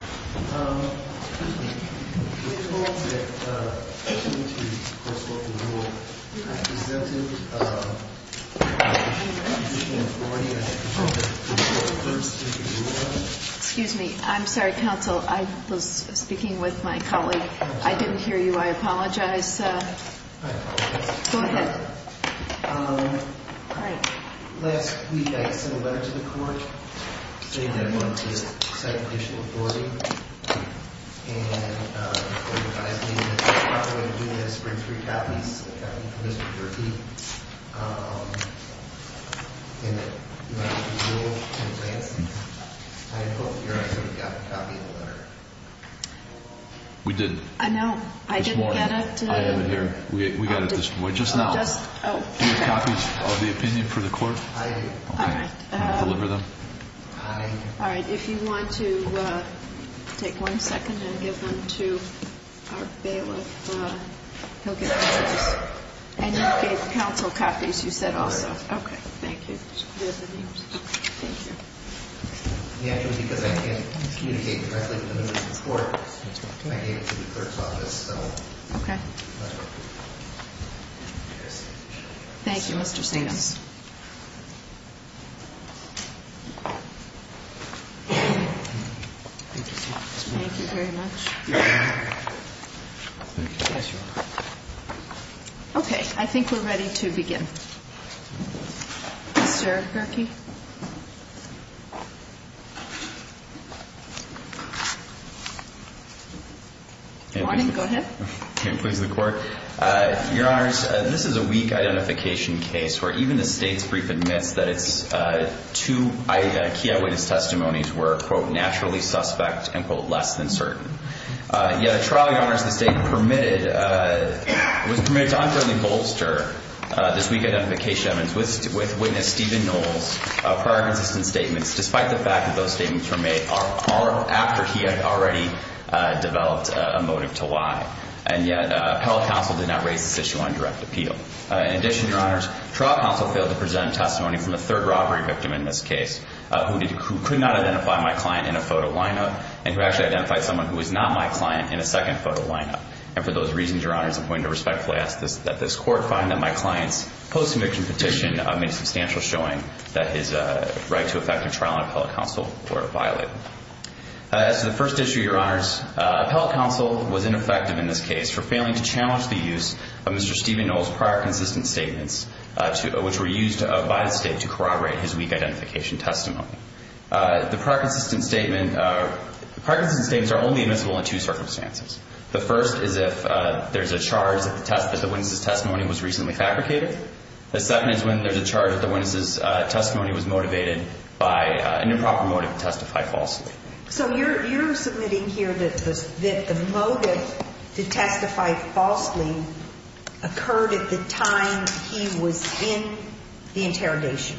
Excuse me. I'm sorry, counsel. I was speaking with my colleague. I didn't hear you. I apologize. I apologize. Last week, I sent a letter to the court saying that I wanted to send additional authority. And the court advised me that if I'm not going to do this, bring three copies of the copy from Mr. DuPree. And that you want it to be real in advance. I had both of your eyes on the copy of the letter. We did. I know. I didn't get it. I didn't hear. We got it just now. Do you have copies of the opinion for the court? I do. Okay. Deliver them. All right. If you want to take one second and give them to our bailiff, he'll get copies. And you gave counsel copies, you said also. Okay. Thank you. Thank you. Because I can't communicate directly with the members of the court, I gave it to the clerk's office. Okay. Thank you, Mr. Stiglitz. Thank you very much. Yes, Your Honor. Okay. I think we're ready to begin. Mr. Gerke. Good morning. Go ahead. Please, the court. Your Honors, this is a weak identification case where even the state's brief admits that its two key eyewitness testimonies were, quote, naturally suspect and, quote, less than certain. Yet a trial, Your Honors, the state was permitted to unfairly bolster this weak identification with witness Stephen Knowles' prior consistent statements, despite the fact that those statements were made after he had already developed a motive to lie. And yet, appellate counsel did not raise this issue on direct appeal. In addition, Your Honors, trial counsel failed to present testimony from the third robbery victim in this case who could not identify my client in a photo lineup and who actually identified someone who was not my client in a second photo lineup. And for those reasons, Your Honors, I'm going to respectfully ask that this court find that my client's post-conviction petition made substantial showing that his right to effect a trial on appellate counsel were violated. As to the first issue, Your Honors, appellate counsel was ineffective in this case for failing to challenge the use of Mr. Stephen Knowles' prior consistent statements, which were used by the state to corroborate his weak identification testimony. The prior consistent statements are only admissible in two circumstances. The first is if there's a charge that the witness' testimony was reasonably fabricated. The second is when there's a charge that the witness' testimony was motivated by an improper motive to testify falsely. So you're submitting here that the motive to testify falsely occurred at the time he was in the interrogation.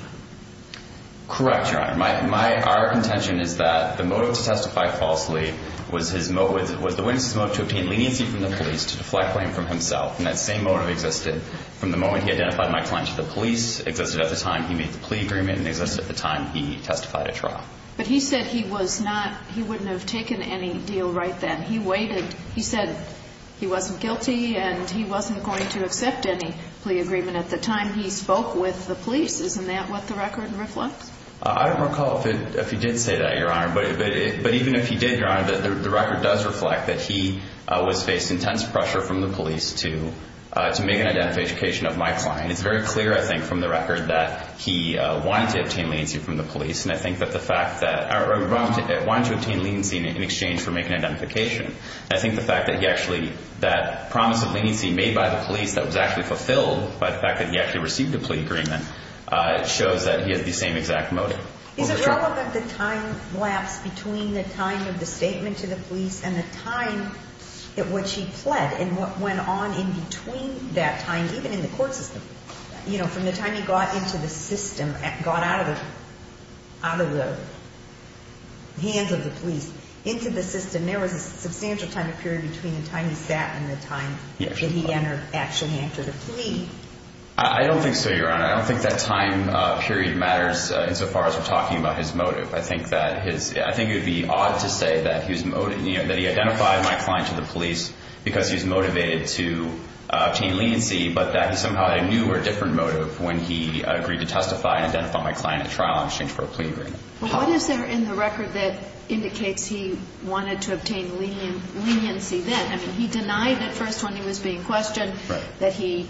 Correct, Your Honor. Our contention is that the motive to testify falsely was the witness' motive to obtain leniency from the police, to deflect blame from himself. And that same motive existed from the moment he identified my client to the police, existed at the time he made the plea agreement, and existed at the time he testified at trial. But he said he was not, he wouldn't have taken any deal right then. He waited. He said he wasn't guilty and he wasn't going to accept any plea agreement at the time he spoke with the police. Isn't that what the record reflects? I don't recall if he did say that, Your Honor. But even if he did, Your Honor, the record does reflect that he was facing intense pressure from the police to make an identification of my client. It's very clear, I think, from the record that he wanted to obtain leniency from the police. And I think that the fact that, or he wanted to obtain leniency in exchange for making identification. I think the fact that he actually, that promise of leniency made by the police that was actually fulfilled by the fact that he actually received a plea agreement shows that he had the same exact motive. Is it relevant that time lapsed between the time of the statement to the police and the time at which he pled and what went on in between that time, even in the court system? From the time he got into the system, got out of the hands of the police, into the system, there was a substantial time period between the time he sat and the time that he actually entered a plea. I don't think so, Your Honor. I don't think that time period matters insofar as we're talking about his motive. I think it would be odd to say that he identified my client to the police because he was motivated to obtain leniency, but that he somehow had a new or different motive when he agreed to testify and identify my client at trial in exchange for a plea agreement. Well, what is there in the record that indicates he wanted to obtain leniency then? I mean, he denied at first when he was being questioned that he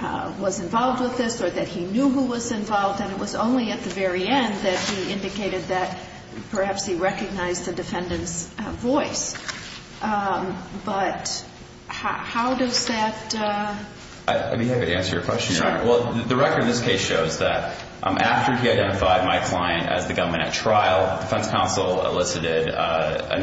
was involved with this or that he knew who was involved, and it was only at the very end that he indicated that perhaps he recognized the defendant's voice. But how does that? Let me have you answer your question, Your Honor. Sure. Well, the record in this case shows that after he identified my client as the gunman at trial, defense counsel elicited a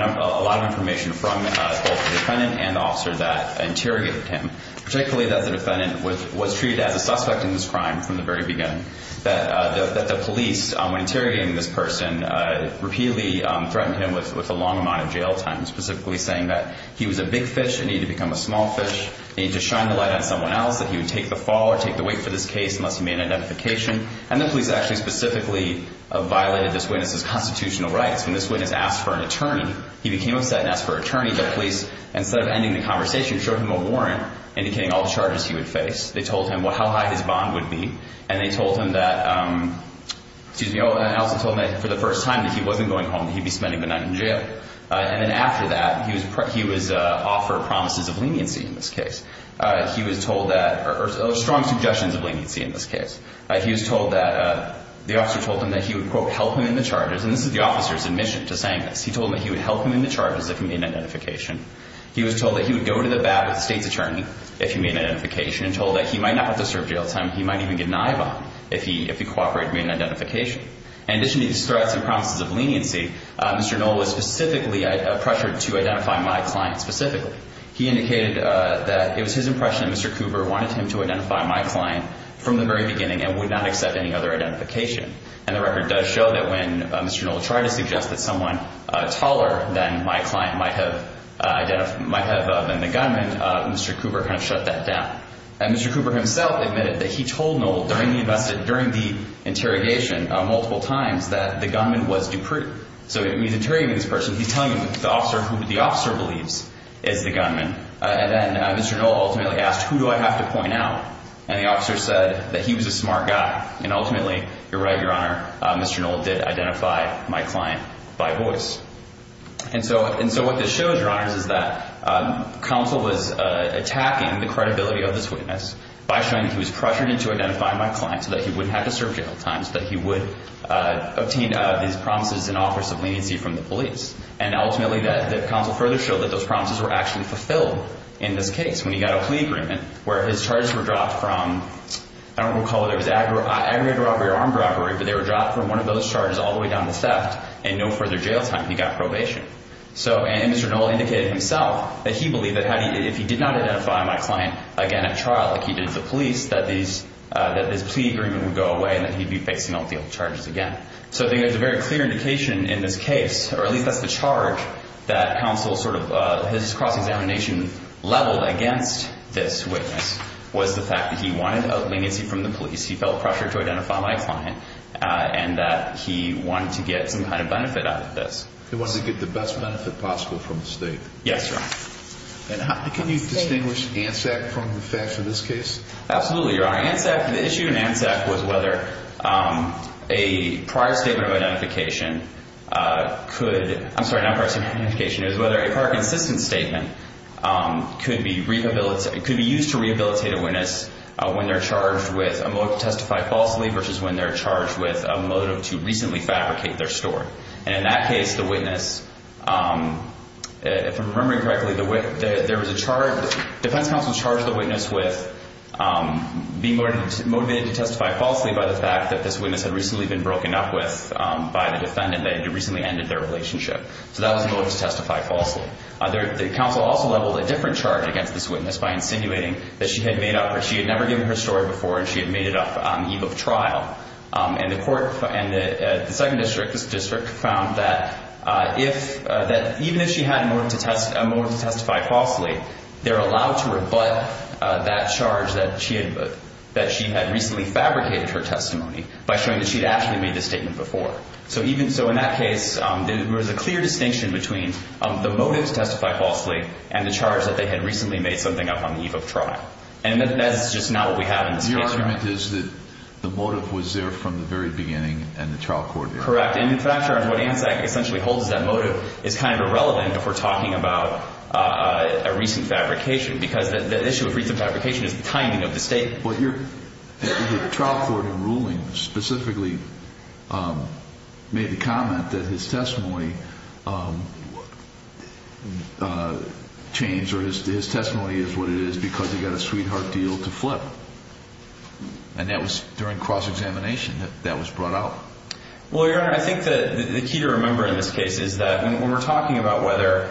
lot of information from both the defendant and the officer that interrogated him, particularly that the defendant was treated as a suspect in this crime from the very beginning, that the police, when interrogating this person, repeatedly threatened him with a long amount of jail time, specifically saying that he was a big fish and needed to become a small fish, needed to shine the light on someone else, that he would take the fall or take the weight for this case unless he made an identification. And the police actually specifically violated this witness's constitutional rights. When this witness asked for an attorney, he became upset and asked for an attorney, but police, instead of ending the conversation, showed him a warrant indicating all the charges he would face. They told him how high his bond would be, and they told him that, excuse me, and also told him that for the first time, if he wasn't going home, that he'd be spending the night in jail. And then after that, he was offered promises of leniency in this case. He was told that, or strong suggestions of leniency in this case. He was told that, the officer told him that he would, quote, help him in the charges. And this is the officer's admission to saying this. He told him that he would help him in the charges if he made an identification. He was told that he would go to the bat with the state's attorney if he made an identification and told that he might not have to serve jail time. He might even get an eye bond if he cooperated to make an identification. In addition to these threats and promises of leniency, Mr. Knoll was specifically pressured to identify my client specifically. He indicated that it was his impression that Mr. Cooper wanted him to identify my client from the very beginning and would not accept any other identification. And the record does show that when Mr. Knoll tried to suggest that someone taller than my client might have been the gunman, Mr. Cooper kind of shut that down. And Mr. Cooper himself admitted that he told Knoll during the interrogation multiple times that the gunman was Dupree. So he's interrogating this person. He's telling him who the officer believes is the gunman. And then Mr. Knoll ultimately asked, who do I have to point out? And the officer said that he was a smart guy. And ultimately, you're right, Your Honor, Mr. Knoll did identify my client by voice. And so what this shows, Your Honor, is that counsel was attacking the credibility of this witness by showing that he was pressuring him to identify my client so that he wouldn't have to serve jail time, so that he would obtain these promises and offers of leniency from the police. And ultimately, the counsel further showed that those promises were actually fulfilled in this case when he got a plea agreement where his charges were dropped from, I don't recall whether it was aggravated robbery or armed robbery, but they were dropped from one of those charges all the way down to theft and no further jail time. He got probation. And Mr. Knoll indicated himself that he believed that if he did not identify my client again at trial like he did to the police, that this plea agreement would go away and that he'd be fixing up the old charges again. So I think that's a very clear indication in this case, or at least that's the charge, that counsel's cross-examination leveled against this witness was the fact that he wanted a leniency from the police. He felt pressure to identify my client and that he wanted to get some kind of benefit out of this. He wanted to get the best benefit possible from the state. Yes, sir. And can you distinguish ANSAC from the facts in this case? Absolutely. The issue in ANSAC was whether a prior statement of identification could be used to rehabilitate a witness when they're charged with a motive to testify falsely versus when they're charged with a motive to recently fabricate their story. And in that case, the witness, if I'm remembering correctly, the defense counsel charged the witness with being motivated to testify falsely by the fact that this witness had recently been broken up with by the defendant that had recently ended their relationship. So that was a motive to testify falsely. The counsel also leveled a different charge against this witness by insinuating that she had never given her story before and she had made it up on the eve of trial. And the court and the second district found that even if she had a motive to testify falsely, they're allowed to rebut that charge that she had recently fabricated her testimony by showing that she had actually made the statement before. So in that case, there was a clear distinction between the motive to testify falsely and the charge that they had recently made something up on the eve of trial. And that's just not what we have in this case. Your argument is that the motive was there from the very beginning and the trial court didn't. Correct. And in fact, what ANSAC essentially holds is that motive is kind of irrelevant if we're talking about a recent fabrication because the issue of recent fabrication is the timing of the statement. But the trial court in ruling specifically made the comment that his testimony changed or his testimony is what it is because he got a sweetheart deal to flip. And that was during cross-examination. That was brought out. Well, Your Honor, I think the key to remember in this case is that when we're talking about whether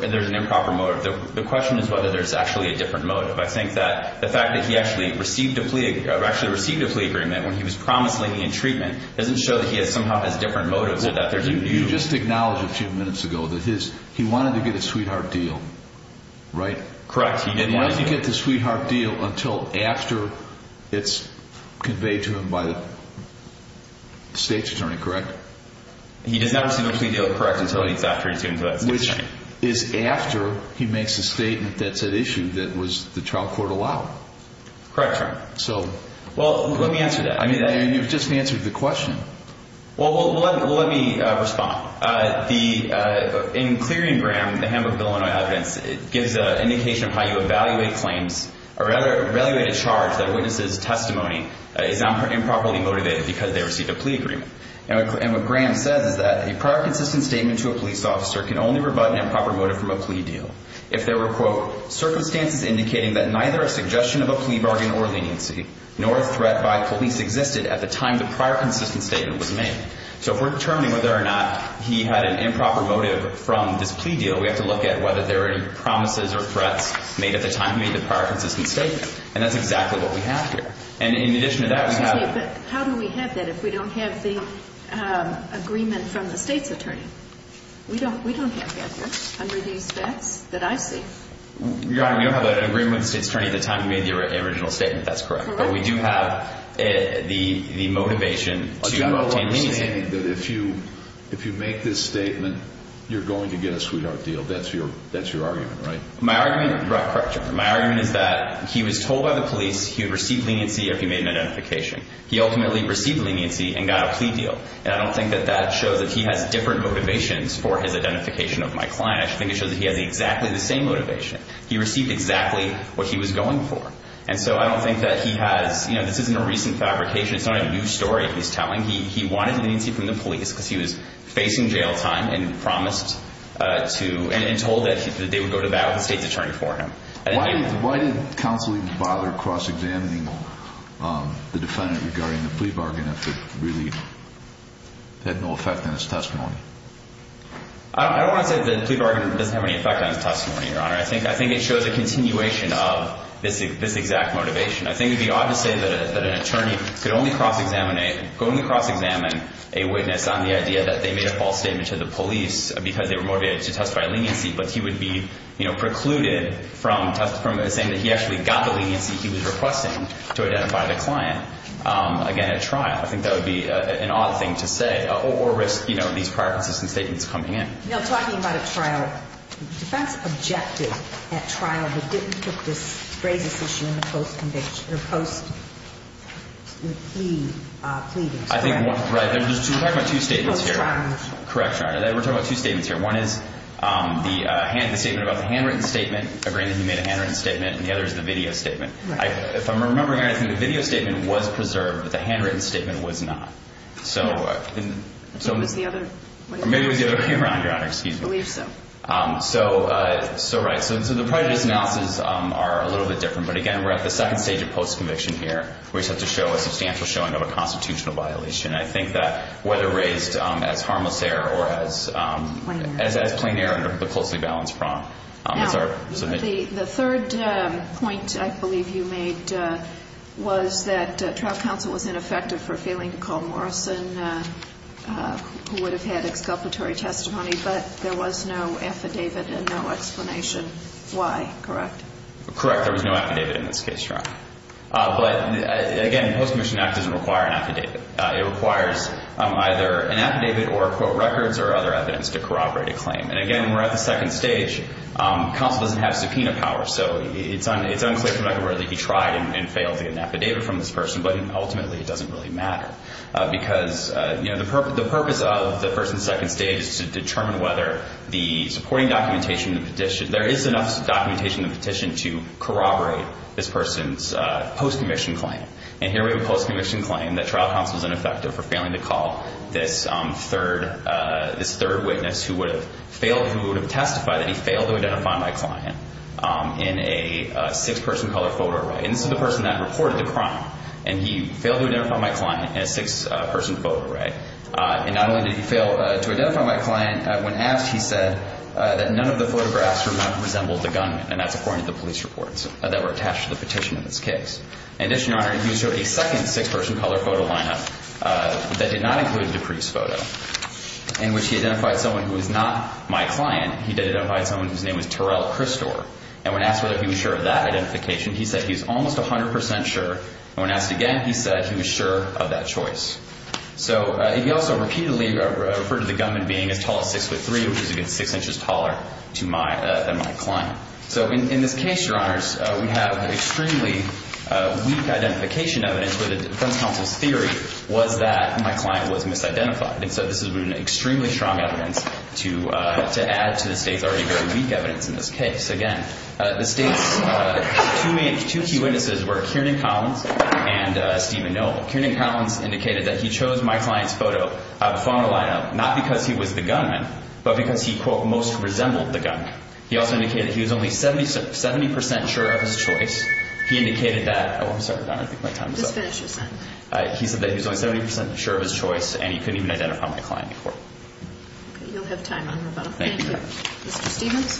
there's an improper motive, the question is whether there's actually a different motive. I think that the fact that he actually received a plea agreement when he was promisingly in treatment doesn't show that he has somehow has different motives. You just acknowledged a few minutes ago that he wanted to get a sweetheart deal, right? Correct. He didn't want to get the sweetheart deal until after it's conveyed to him by the state's attorney, correct? He does not receive a plea deal, correct, until it's after he's given to that state's attorney. It's after he makes a statement that said issue that was the trial court allowed. Correct, Your Honor. Well, let me answer that. I mean, you've just answered the question. Well, let me respond. In clearing Graham, the Hamburg-Illinois evidence, it gives an indication of how you evaluate claims or evaluate a charge that a witness's testimony is improperly motivated because they received a plea agreement. And what Graham says is that a prior consistent statement to a police officer can only rebut an improper motive from a plea deal if there were, quote, circumstances indicating that neither a suggestion of a plea bargain or leniency nor a threat by police existed at the time the prior consistent statement was made. So if we're determining whether or not he had an improper motive from this plea deal, we have to look at whether there were any promises or threats made at the time he made the prior consistent statement. And that's exactly what we have here. But how do we have that if we don't have the agreement from the state's attorney? We don't have that here under these facts that I see. Your Honor, we don't have an agreement with the state's attorney at the time he made the original statement. That's correct. But we do have the motivation to obtain leniency. But you have an understanding that if you make this statement, you're going to get a sweetheart deal. That's your argument, right? Correct, Your Honor. My argument is that he was told by the police he would receive leniency if he made an identification. He ultimately received leniency and got a plea deal. And I don't think that that shows that he has different motivations for his identification of my client. I think it shows that he has exactly the same motivation. He received exactly what he was going for. And so I don't think that he has, you know, this isn't a recent fabrication. It's not a new story he's telling. He wanted leniency from the police because he was facing jail time and promised to and told that they would go to bat with the state's attorney for him. Why did counsel even bother cross-examining the defendant regarding the plea bargain if it really had no effect on his testimony? I don't want to say that the plea bargain doesn't have any effect on his testimony, Your Honor. I think it shows a continuation of this exact motivation. I think it would be odd to say that an attorney could only cross-examine a witness on the idea that they made a false statement to the police because they were motivated to testify of leniency, but he would be, you know, precluded from saying that he actually got the leniency he was requesting to identify the client, again, at trial. I think that would be an odd thing to say or risk, you know, these prior consistent statements coming in. You know, talking about at trial, the defense objected at trial but didn't put this brazen decision in the post-plea. Right. We're talking about two statements here. Correct, Your Honor. We're talking about two statements here. One is the handwritten statement, agreeing that he made a handwritten statement, and the other is the video statement. Right. If I'm remembering correctly, the video statement was preserved, but the handwritten statement was not. Maybe it was the other one. Maybe it was the other one, Your Honor. Excuse me. I believe so. So, right. So the prejudice analysis are a little bit different, but, again, we're at the second stage of post-conviction here where we just have to show a substantial showing of a constitutional violation. I think that whether raised as harmless error or as plain error under the closely balanced prong. Now, the third point I believe you made was that trial counsel was ineffective for failing to call Morrison, who would have had exculpatory testimony, but there was no affidavit and no explanation why. Correct? Correct. There was no affidavit in this case, Your Honor. But, again, the Post-Commission Act doesn't require an affidavit. It requires either an affidavit or, quote, records or other evidence to corroborate a claim. And, again, we're at the second stage. Counsel doesn't have subpoena power, so it's unclear from where he tried and failed to get an affidavit from this person, but ultimately it doesn't really matter because, you know, the purpose of the first and second stage is to determine whether the supporting documentation in the petition, there is enough documentation in the petition to corroborate this person's post-commission claim. And here we have a post-commission claim that trial counsel is ineffective for failing to call this third witness who would have failed, who would have testified that he failed to identify my client in a six-person color photo array. And this is the person that reported the crime, and he failed to identify my client in a six-person photo array. And not only did he fail to identify my client when asked, he said that none of the photographs resembled the gunman, and that's according to the police reports that were attached to the petition in this case. And this, Your Honor, he showed a second six-person color photo lineup that did not include Dupree's photo, in which he identified someone who was not my client. He identified someone whose name was Terrell Christor. And when asked whether he was sure of that identification, he said he was almost 100 percent sure. And when asked again, he said he was sure of that choice. So he also repeatedly referred to the gunman being as tall as 6'3", which is, again, 6 inches taller than my client. So in this case, Your Honors, we have extremely weak identification evidence, where the defense counsel's theory was that my client was misidentified. And so this has been extremely strong evidence to add to the State's already very weak evidence in this case. Again, the State's two key witnesses were Kiernan Collins and Stephen Noll. Kiernan Collins indicated that he chose my client's photo out of the photo lineup not because he was the gunman, but because he, quote, most resembled the gunman. He also indicated he was only 70 percent sure of his choice. He indicated that—oh, I'm sorry, Your Honor, I think my time is up. Just finish your sentence. He said that he was only 70 percent sure of his choice, and he couldn't even identify my client before. Okay, you'll have time, Your Honor. Thank you. Mr. Stephens?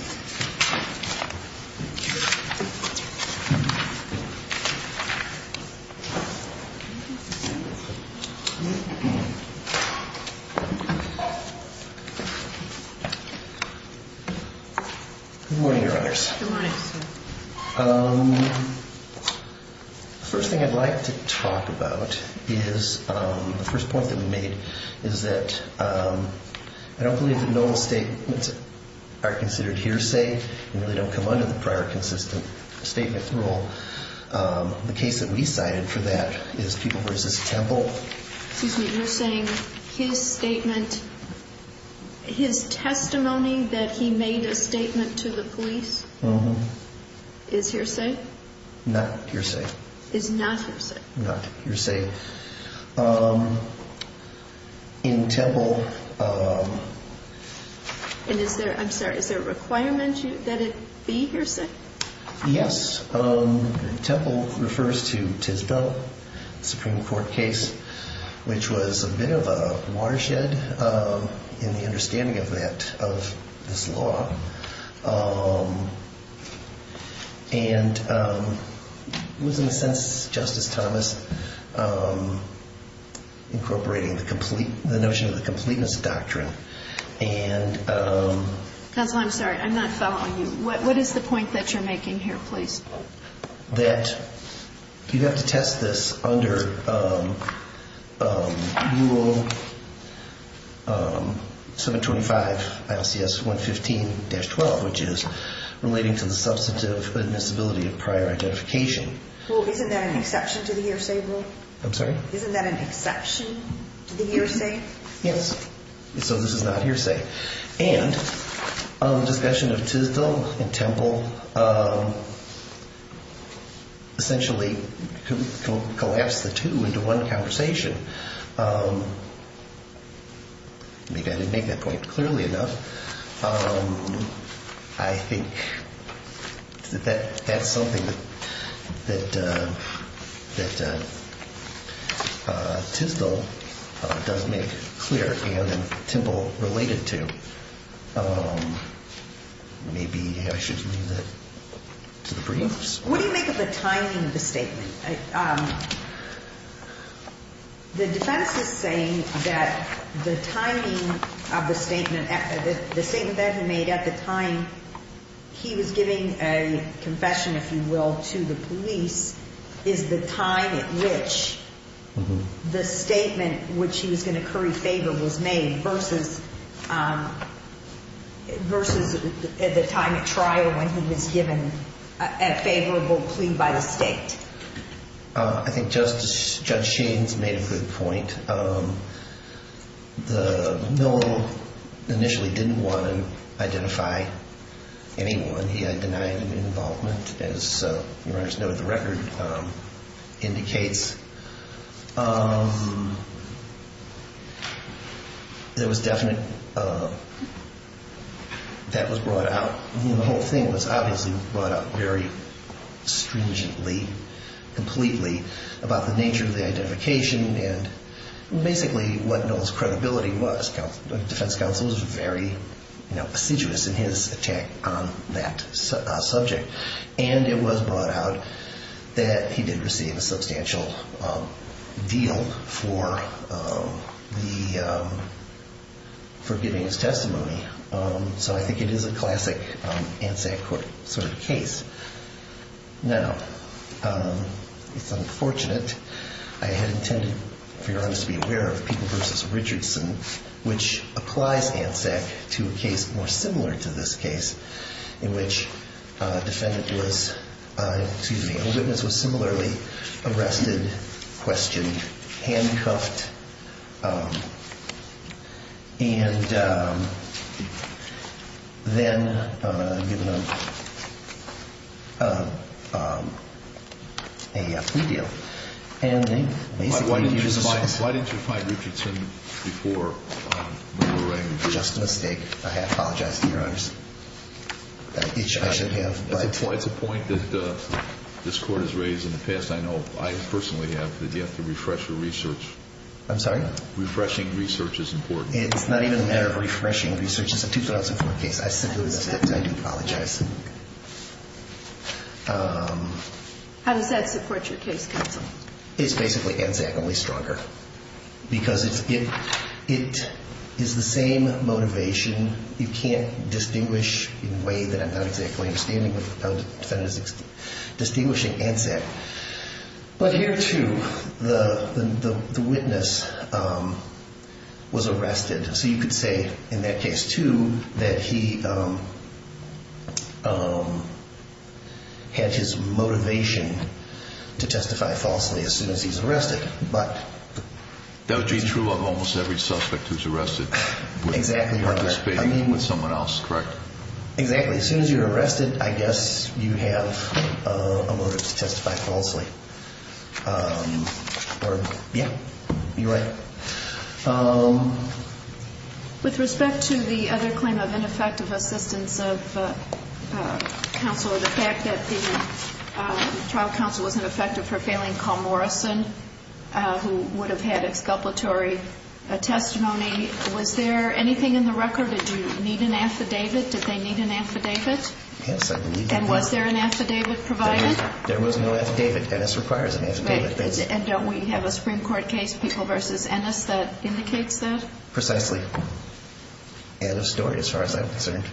Good morning, Your Honors. Good morning, sir. The first thing I'd like to talk about is the first point that we made, is that I don't believe that Noll's statements are considered hearsay and really don't come under the prior consistent statement rule. The case that we cited for that is People vs. Temple. Excuse me, you're saying his statement, his testimony that he made a statement to the police is hearsay? Not hearsay. Is not hearsay? Not hearsay. In Temple— And is there—I'm sorry, is there a requirement that it be hearsay? Yes. Temple refers to Tisdell, the Supreme Court case, which was a bit of a watershed in the understanding of that, of this law. And it was, in a sense, Justice Thomas, incorporating the notion of the completeness doctrine. Counsel, I'm sorry. I'm not following you. What is the point that you're making here, please? That you have to test this under Rule 725, ILCS 115-12, which is relating to the substantive admissibility of prior identification. Well, isn't that an exception to the hearsay rule? I'm sorry? Isn't that an exception to the hearsay? Yes. So this is not hearsay. And the discussion of Tisdell and Temple essentially collapsed the two into one conversation. Maybe I didn't make that point clearly enough. I think that that's something that Tisdell does make clear and that Temple related to. Maybe I should leave that to the briefs. What do you make of the timing of the statement? The defense is saying that the timing of the statement, the statement that he made at the time he was giving a confession, if you will, to the police, is the time at which the statement which he was going to curry favor was made versus the time at trial when he was given a favorable plea by the state. I think Judge Sheen's made a good point. Miller initially didn't want to identify anyone. He had denied any involvement, as the record indicates. There was definite, that was brought out, the whole thing was obviously brought out very stringently, completely about the nature of the identification and basically what Noel's credibility was. The defense counsel was very assiduous in his attack on that subject. It was brought out that he did receive a substantial deal for giving his testimony. I think it is a classic ANSAC court sort of case. It's unfortunate. I had intended, to be honest, to be aware of People v. Richardson, which applies ANSAC to a case more similar to this case in which a defendant was, excuse me, a witness was similarly arrested, questioned, handcuffed, and then given a plea deal. And they basically used this. Why didn't you find Richardson before Miller rang? Just a mistake. I apologize to you, Your Honors. I should have. It's a point that this Court has raised in the past. I know. I personally have. You have to refresh your research. I'm sorry? Refreshing research is important. It's not even a matter of refreshing research. It's a 2004 case. I do apologize. How does that support your case, Counsel? It's basically ANSAC, only stronger. Because it is the same motivation. You can't distinguish in a way that I'm not exactly understanding with a defendant distinguishing ANSAC. But here, too, the witness was arrested. So you could say in that case, too, that he had his motivation to testify falsely as soon as he's arrested. That would be true of almost every suspect who's arrested. Exactly. You're participating with someone else, correct? Exactly. As soon as you're arrested, I guess you have a motive to testify falsely. Yeah. You're right. With respect to the other claim of ineffective assistance of counsel, or the fact that the trial counsel wasn't effective for failing Carl Morrison, who would have had exculpatory testimony, was there anything in the record? Did you need an affidavit? Did they need an affidavit? Yes, I did need an affidavit. And was there an affidavit provided? There was no affidavit. NS requires an affidavit. And don't we have a Supreme Court case, People v. Ennis, that indicates that? Precisely. Out of story as far as I'm concerned.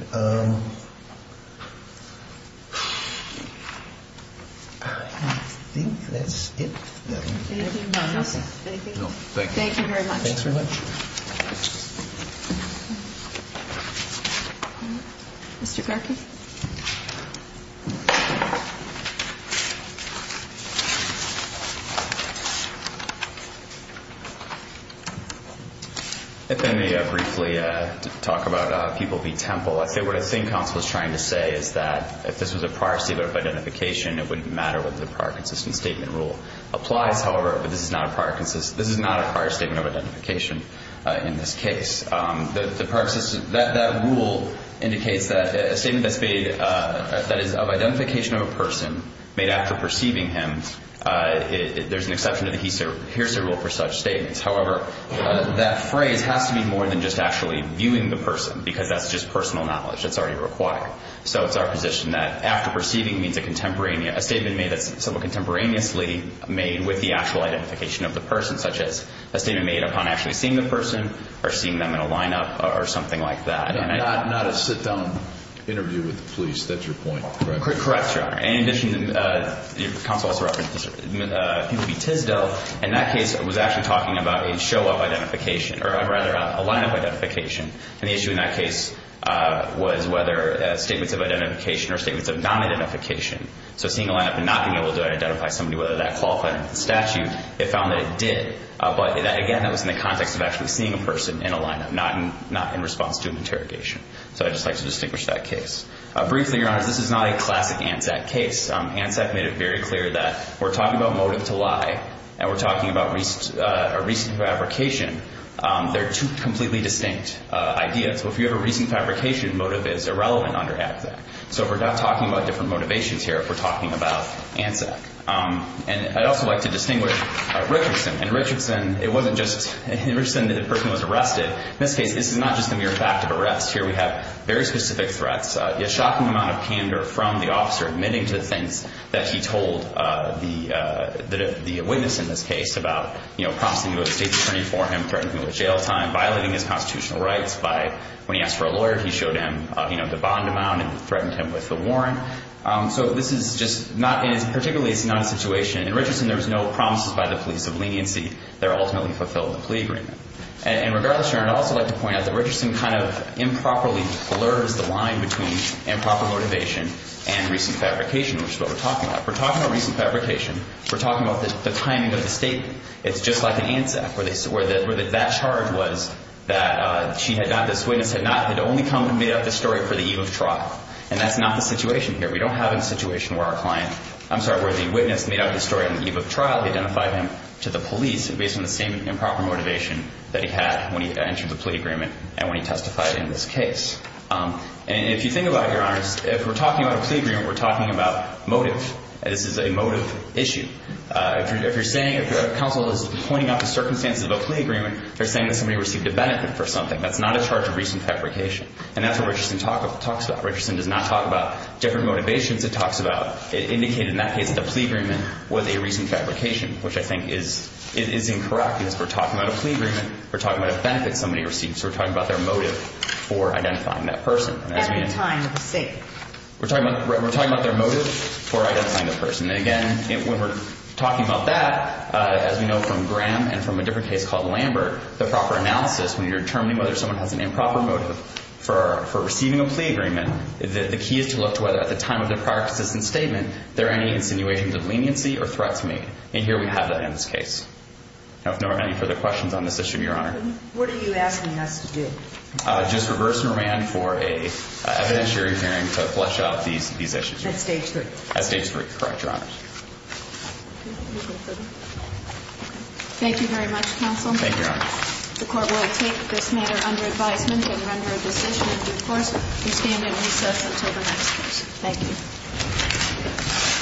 I think that's it. Anything else? No, thank you. Thank you very much. Thanks very much. Mr. Garkey? If I may briefly talk about People v. Temple. I think what counsel is trying to say is that if this was a prior statement of identification, it wouldn't matter whether the prior consistent statement rule applies. However, this is not a prior statement of identification in this case. That rule indicates that a statement that is of identification of a person made after perceiving him, there's an exception to the hearsay rule for such statements. However, that phrase has to be more than just actually viewing the person, because that's just personal knowledge that's already required. So it's our position that after perceiving means a statement made contemporaneously made with the actual identification of the person, such as a statement made upon actually seeing the person or seeing them in a lineup or something like that. Not a sit-down interview with the police. That's your point, correct? Correct, Your Honor. In addition, counsel also referenced People v. Tisdale. In that case, it was actually talking about a lineup identification. And the issue in that case was whether statements of identification or statements of non-identification. So seeing a lineup and not being able to identify somebody, whether that qualified under the statute, it found that it did. But, again, that was in the context of actually seeing a person in a lineup, not in response to an interrogation. So I'd just like to distinguish that case. Briefly, Your Honor, this is not a classic ANSAC case. ANSAC made it very clear that we're talking about motive to lie and we're talking about a recent fabrication. They're two completely distinct ideas. So if you have a recent fabrication, motive is irrelevant under ANSAC. So we're not talking about different motivations here if we're talking about ANSAC. And I'd also like to distinguish Richardson. In Richardson, it wasn't just that the person was arrested. In this case, this is not just a mere fact of arrest. Here we have very specific threats. A shocking amount of candor from the officer admitting to things that he told the witness in this case about, you know, prompting him to go to the state attorney for him, threatening him with jail time, violating his constitutional rights. When he asked for a lawyer, he showed him, you know, the bond amount and threatened him with a warrant. So this is just not ñ particularly, it's not a situation ñ in Richardson, there's no promises by the police of leniency. They're ultimately fulfilled with a plea agreement. And regardless, Your Honor, I'd also like to point out that Richardson kind of improperly blurs the line between improper motivation and recent fabrication, which is what we're talking about. We're talking about recent fabrication. We're talking about the timing of the statement. It's just like an ANSAC where that charge was that she had not ñ this witness had not ñ had only come and made up this story for the eve of trial. And that's not the situation here. We don't have a situation where our client ñ I'm sorry, where the witness made up the story on the eve of trial, identified him to the police based on the same improper motivation that he had when he entered the plea agreement and when he testified in this case. And if you think about it, Your Honor, if we're talking about a plea agreement, we're talking about motive. This is a motive issue. If you're saying ñ if counsel is pointing out the circumstances of a plea agreement, they're saying that somebody received a benefit for something. That's not a charge of recent fabrication. And that's what Richardson talks about. Richardson does not talk about different motivations. It talks about ñ it indicated in that case that the plea agreement was a recent fabrication, which I think is incorrect because we're talking about a plea agreement. We're talking about a benefit somebody received. So we're talking about their motive for identifying that person. At the time of the statement. We're talking about their motive for identifying the person. And, again, when we're talking about that, as we know from Graham and from a different case called Lambert, the proper analysis, when you're determining whether someone has an improper motive for receiving a plea agreement, the key is to look to whether at the time of the prior consistent statement there are any insinuations of leniency or threats made. And here we have that in this case. Now, if there are any further questions on this issue, Your Honor. What are you asking us to do? Just reverse and remand for an evidentiary hearing to flesh out these issues. At Stage 3. At Stage 3, correct, Your Honor. Thank you very much, counsel. Thank you, Your Honor. The Court will take this matter under advisement and render a decision in due course. We stand at recess until the next case. Thank you.